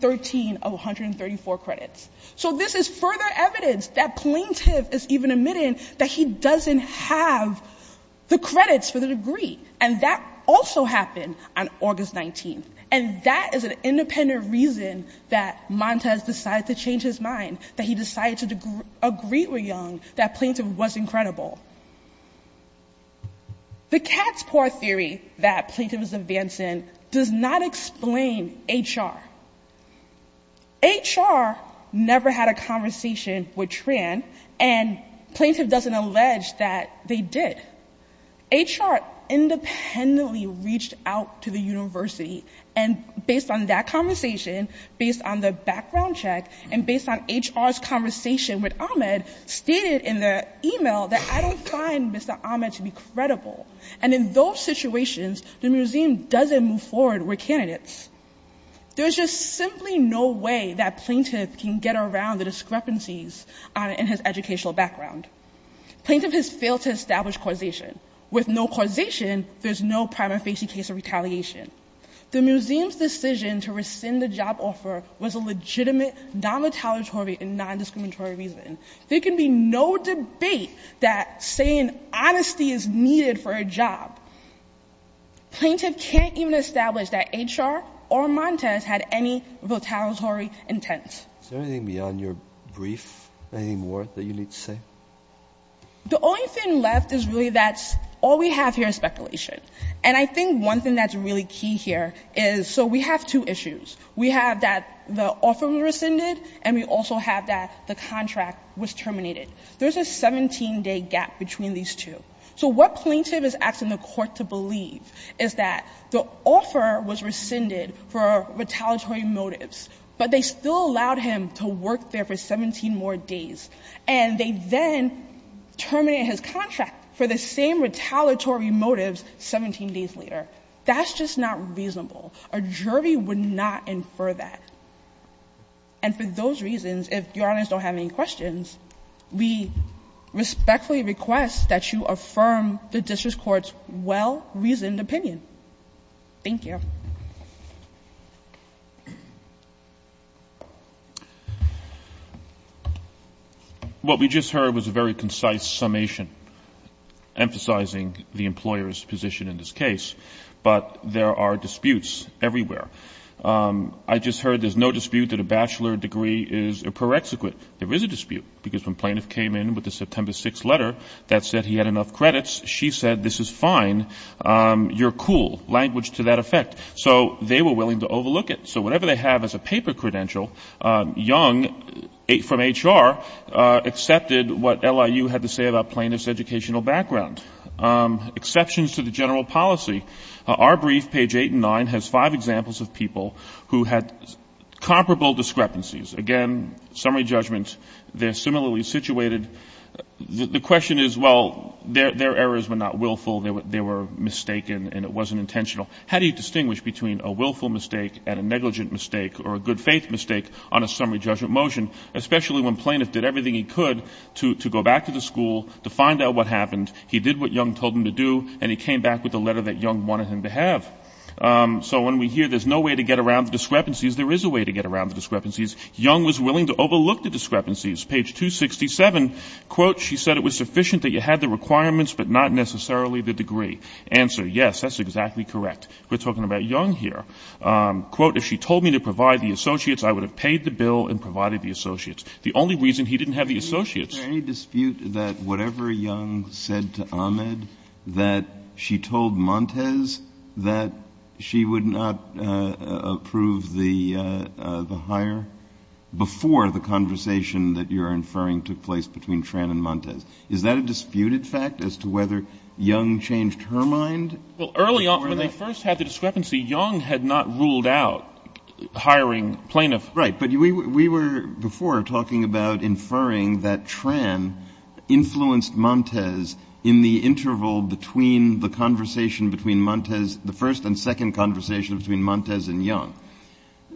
13 of 134 credits. So this is further evidence that plaintiff is even admitting that he doesn't have the credits for the degree. And that also happened on August 19th. And that is an independent reason that Montez decided to change his mind, that he decided to agree with Young, that plaintiff was incredible. The cat's paw theory that plaintiff is advancing does not explain HR. HR never had a conversation with Tran, and plaintiff doesn't allege that they did. HR independently reached out to the university, and based on that conversation, based on the background check, and based on that, they declined Mr. Ahmed to be credible. And in those situations, the museum doesn't move forward with candidates. There's just simply no way that plaintiff can get around the discrepancies in his educational background. Plaintiff has failed to establish causation. With no causation, there's no prima facie case of retaliation. The museum's decision to rescind the job offer was a legitimate, non-retaliatory, and non-discriminatory reason. There can be no debate that saying honesty is needed for a job. Plaintiff can't even establish that HR or Montez had any retaliatory intent. Is there anything beyond your brief, anything more that you need to say? The only thing left is really that all we have here is speculation. And I think one thing that's really key here is, so we have two issues. We have that the offer was rescinded, and we also have that the contract was terminated. There's a 17-day gap between these two. So what plaintiff is asking the court to believe is that the offer was rescinded for retaliatory motives, but they still allowed him to work there for 17 more days. And they then terminated his contract for the same retaliatory motives 17 days later. That's just not reasonable. A jury would not infer that. And for those reasons, if Your Honors don't have any questions, we respectfully request that you affirm the district court's well-reasoned opinion. Thank you. What we just heard was a very concise summation emphasizing the employer's position in this case, but there are disputes everywhere. I just heard there's no dispute that a bachelor degree is a prerequisite. There is a dispute, because when plaintiff came in with the September 6th letter that said he had enough credits, she said, this is fine, you're cool, language to that effect. So they were willing to overlook it. So whatever they have as a paper credential, Young from HR accepted what LIU had to say about plaintiff's educational background. Exceptions to the general policy. Our brief, page 8 and 9, has five examples of people who had comparable discrepancies. Again, summary judgment, they're similarly situated. The question is, well, their errors were not willful, they were mistaken, and it wasn't intentional. How do you distinguish between a willful mistake and a negligent mistake or a good-faith mistake on a summary judgment motion, especially when plaintiff did everything he could to go back to the school, to find out what happened, he did what Young told him to do, and he came back with the letter that Young wanted him to have. So when we hear there's no way to get around the discrepancies, there is a way to get around the discrepancies. Young was willing to overlook the discrepancies. Page 267, quote, she said it was sufficient that you had the requirements, but not necessarily the degree. Answer, yes, that's exactly correct. We're talking about Young here. Quote, if she told me to provide the associates, I would have paid the bill and provided the associates. The only reason he didn't have the associates. Kennedy, is there any dispute that whatever Young said to Ahmed, that she told Montes that she would not approve the hire before the conversation that you're inferring took place between Tran and Montes? Is that a disputed fact as to whether Young changed her mind? Well, early on, when they first had the discrepancy, Young had not ruled out hiring plaintiffs. Right. But we were before talking about inferring that Tran influenced Montes in the interval between the conversation between Montes, the first and second conversation between Montes and Young.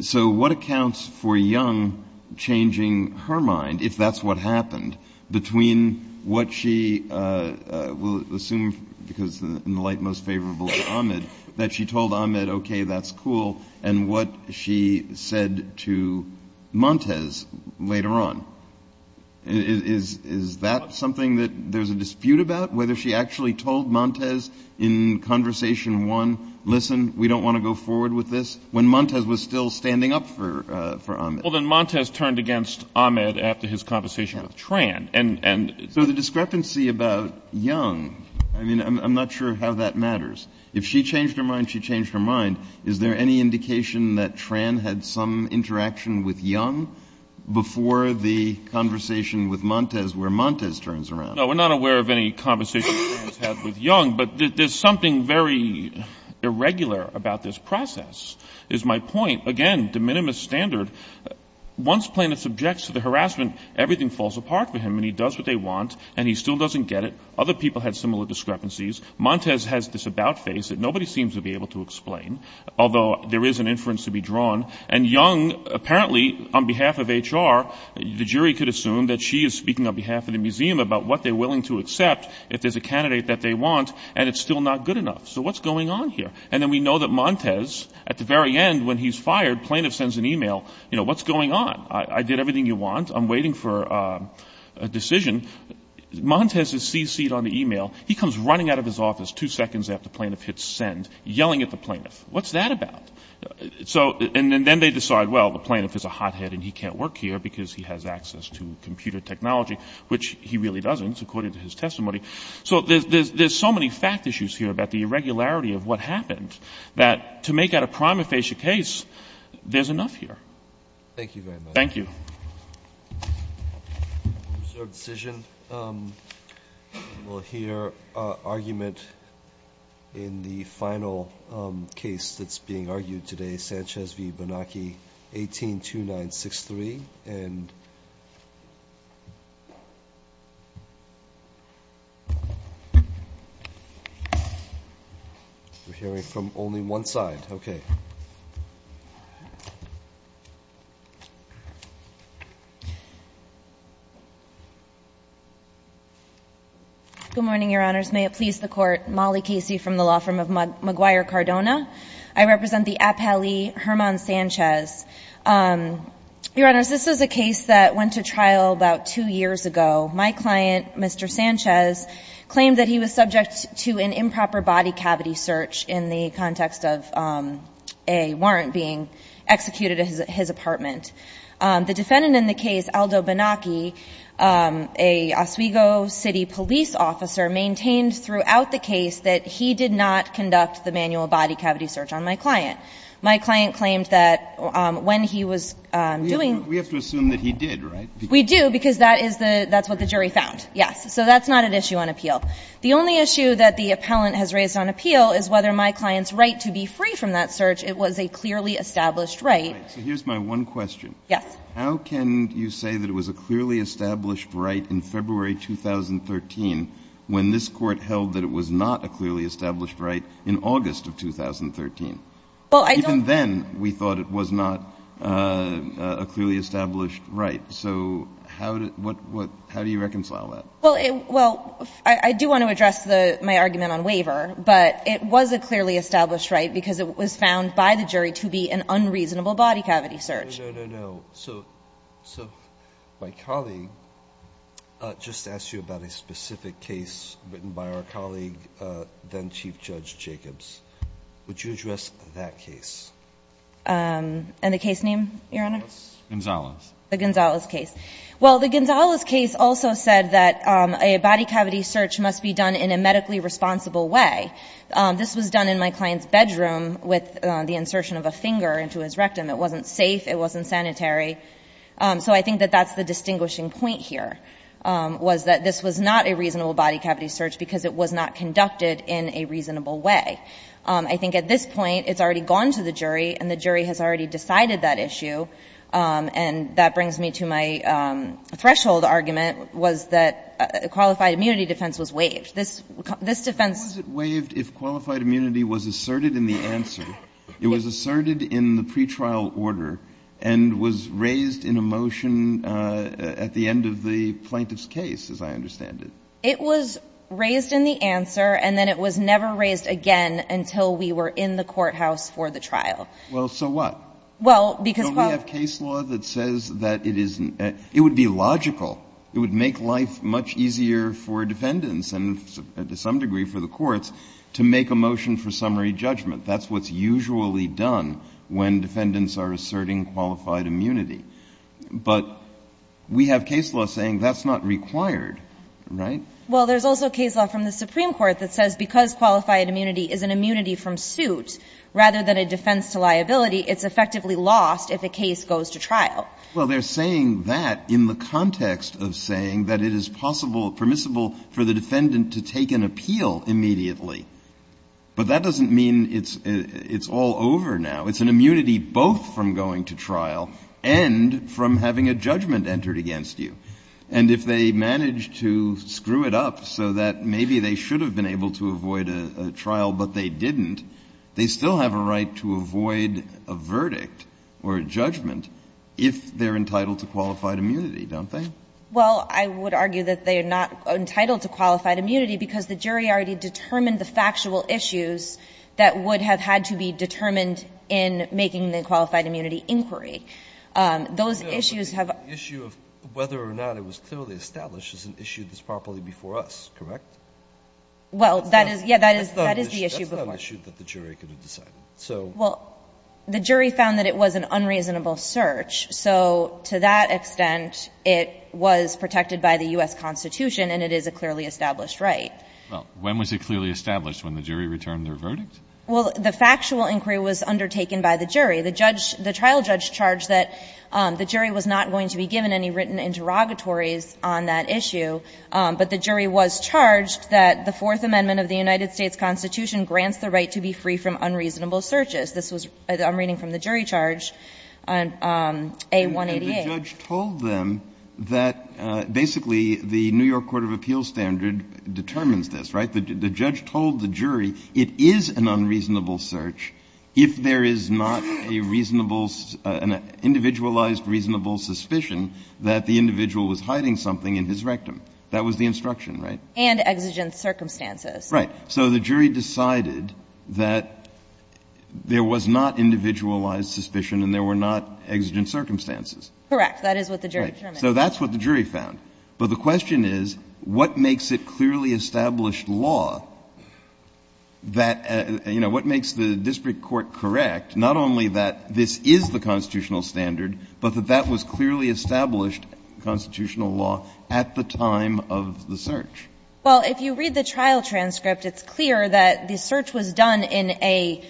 So what accounts for Young changing her mind, if that's what happened, between what she will assume, because in the light most favorable to Ahmed, that she told Ahmed, okay, that's cool, and what she said to Montes later on. Is that something that there's a dispute about, whether she actually told Montes in conversation one, listen, we don't want to go forward with this, when Montes was still standing up for Ahmed? Well, then Montes turned against Ahmed after his conversation with Tran. So the discrepancy about Young, I mean, I'm not sure how that matters. If she changed her mind, she changed her mind. Is there any indication that Tran had some interaction with Young before the conversation with Montes, where Montes turns around? No, we're not aware of any conversation that she had with Young, but there's something very irregular about this process, is my point. Again, de minimis standard. Once plaintiff subjects to the harassment, everything falls apart for him, and he does what they want, and he still doesn't get it. Other people had similar discrepancies. Montes has this doubt phase that nobody seems to be able to explain, although there is an inference to be drawn. And Young, apparently, on behalf of HR, the jury could assume that she is speaking on behalf of the museum about what they're willing to accept if there's a candidate that they want, and it's still not good enough. So what's going on here? And then we know that Montes, at the very end, when he's fired, plaintiff sends an e-mail, you know, what's going on? I did everything you want. I'm waiting for a decision. Montes is cc'd on the e-mail. He comes running out of his office two seconds after plaintiff hits send, yelling at the plaintiff. What's that about? And then they decide, well, the plaintiff is a hothead and he can't work here because he has access to computer technology, which he really doesn't, according to his testimony. So there's so many fact issues here about the irregularity of what happened that, to make out a prima facie case, there's enough here. Thank you very much. Thank you. We'll hear argument in the final case that's being argued today, Sanchez v. Bonacchi, 182963. Good morning, Your Honors. May it please the Court. Molly Casey from the law firm of McGuire Cardona. I represent the appellee, Hermann Sanchez. Your Honors, this is a case that went to trial about two years ago. My client, Mr. Sanchez, claimed that he was subject to an improper body cavity search in the context of a warrant being executed at his apartment. The defendant in the case, Aldo Bonacchi, a Oswego City police officer, maintained throughout the case that he did not conduct the manual body cavity search on my client. My client claimed that when he was doing the search. We have to assume that he did, right? We do, because that is the – that's what the jury found, yes. So that's not an issue on appeal. The only issue that the appellant has raised on appeal is whether my client's right to be free from that search, it was a clearly established right. Right. So here's my one question. Yes. How can you say that it was a clearly established right in February 2013 when this court held that it was not a clearly established right in August of 2013? Even then, we thought it was not a clearly established right. So how do you reconcile that? Well, I do want to address my argument on waiver, but it was a clearly established right because it was found by the jury to be an unreasonable body cavity search. No, no, no, no. So my colleague just asked you about a specific case written by our colleague, then Chief Judge Jacobs. Would you address that case? And the case name, Your Honor? Gonzalez. The Gonzalez case. Well, the Gonzalez case also said that a body cavity search must be done in a medically responsible way. This was done in my client's bedroom with the insertion of a finger into his rectum. It wasn't safe. It wasn't sanitary. So I think that that's the distinguishing point here, was that this was not a reasonable body cavity search because it was not conducted in a reasonable way. I think at this point, it's already gone to the jury and the jury has already decided that issue. And that brings me to my threshold argument, was that a qualified immunity defense was waived. This defense was waived if qualified immunity was asserted in the answer. It was asserted in the pretrial order and was raised in a motion at the end of the plaintiff's case, as I understand it. It was raised in the answer and then it was never raised again until we were in the courthouse for the trial. Well, so what? Well, because... So we have case law that says that it is, it would be logical, it would make life much easier for defendants and to some degree for the courts to make a motion for summary judgment. That's what's usually done when defendants are asserting qualified immunity. But we have case law saying that's not required, right? Well, there's also case law from the Supreme Court that says because qualified immunity is an immunity from suit rather than a defense to liability, it's effectively lost if a case goes to trial. Well, they're saying that in the context of saying that it is possible, permissible for the defendant to take an appeal immediately. But that doesn't mean it's all over now. It's an immunity both from going to trial and from having a judgment entered against you. And if they manage to screw it up so that maybe they should have been able to avoid a trial but they didn't, they still have a right to avoid a verdict or a judgment if they're entitled to qualified immunity, don't they? Well, I would argue that they're not entitled to qualified immunity because the jury already determined the factual issues that would have had to be determined in making the qualified immunity inquiry. Those issues have been the issue of whether or not it was clearly established as an issue that's properly before us, correct? Well, that is, yeah, that is the issue before us. That's not an issue that the jury could have decided, so. Well, the jury found that it was an unreasonable search, so to that extent, it was protected by the U.S. Constitution and it is a clearly established right. Well, when was it clearly established? When the jury returned their verdict? Well, the factual inquiry was undertaken by the jury. The judge, the trial judge charged that the jury was not going to be given any written interrogatories on that issue, but the jury was charged that the Fourth Amendment of the United States Constitution grants the right to be free from unreasonable searches. This was, I'm reading from the jury charge, A-188. And the judge told them that basically the New York court of appeals standard determines this, right? The judge told the jury it is an unreasonable search if there is not a reasonable an individualized reasonable suspicion that the individual was hiding something in his rectum. That was the instruction, right? And exigent circumstances. Right. So the jury decided that there was not individualized suspicion and there were not exigent circumstances. Correct. That is what the jury determined. Right. So that's what the jury found. But the question is, what makes it clearly established law that, you know, what makes the district court correct, not only that this is the constitutional standard, but that that was clearly established constitutional law at the time of the search? Well, if you read the trial transcript, it's clear that the search was done in a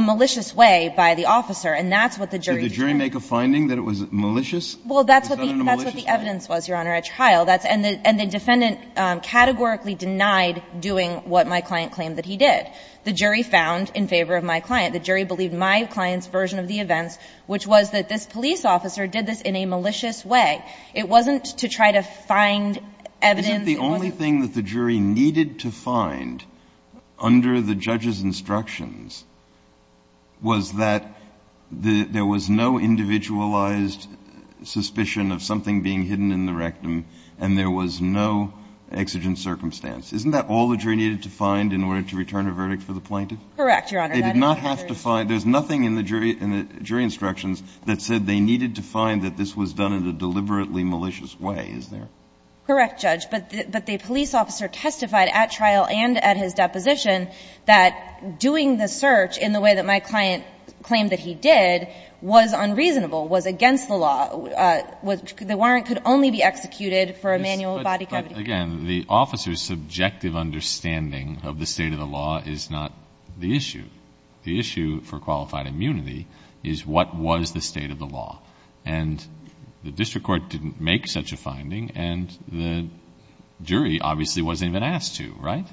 malicious way by the officer, and that's what the jury determined. Did the jury make a finding that it was malicious? Well, that's what the evidence was, Your Honor. The evidence was that the officer did not do what the client claimed that he did. The jury found in favor of my client. The jury believed my client's version of the events, which was that this police officer did this in a malicious way. It wasn't to try to find evidence. Isn't the only thing that the jury needed to find under the judge's instructions was that there was no individualized suspicion of something being hidden in the rectum and there was no exigent circumstance? Isn't that all the jury needed to find in order to return a verdict for the plaintiff? Correct, Your Honor. They did not have to find – there's nothing in the jury instructions that said they needed to find that this was done in a deliberately malicious way, is there? Correct, Judge. But the police officer testified at trial and at his deposition that doing the search in the way that my client claimed that he did was unreasonable, was against the law. The warrant could only be executed for a manual body cavity. But again, the officer's subjective understanding of the state of the law is not the issue. The issue for qualified immunity is what was the state of the law. And the district court didn't make such a finding and the jury obviously wasn't even asked to, right?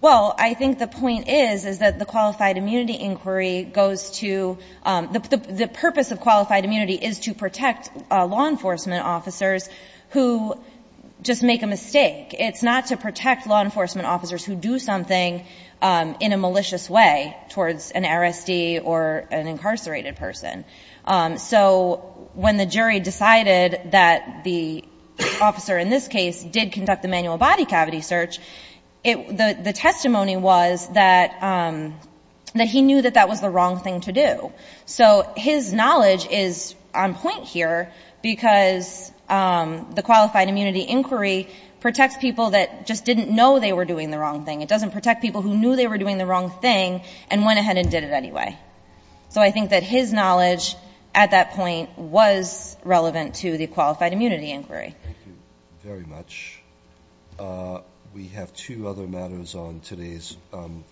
Well, I think the point is, is that the qualified immunity inquiry goes to – the purpose of qualified immunity is to find law enforcement officers who just make a mistake. It's not to protect law enforcement officers who do something in a malicious way towards an RSD or an incarcerated person. So when the jury decided that the officer in this case did conduct the manual body cavity search, the testimony was that he knew that that was the wrong thing to do. So his knowledge is on point here because the qualified immunity inquiry protects people that just didn't know they were doing the wrong thing. It doesn't protect people who knew they were doing the wrong thing and went ahead and did it anyway. So I think that his knowledge at that point was relevant to the qualified immunity inquiry. Thank you very much. We have two other matters on today's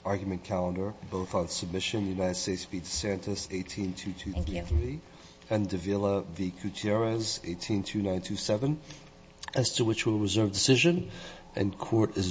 argument calendar, both on submission. United States v. DeSantis, 18223. Thank you. And de Villa v. Gutierrez, 182927, as to which we'll reserve decision. And court is adjourned.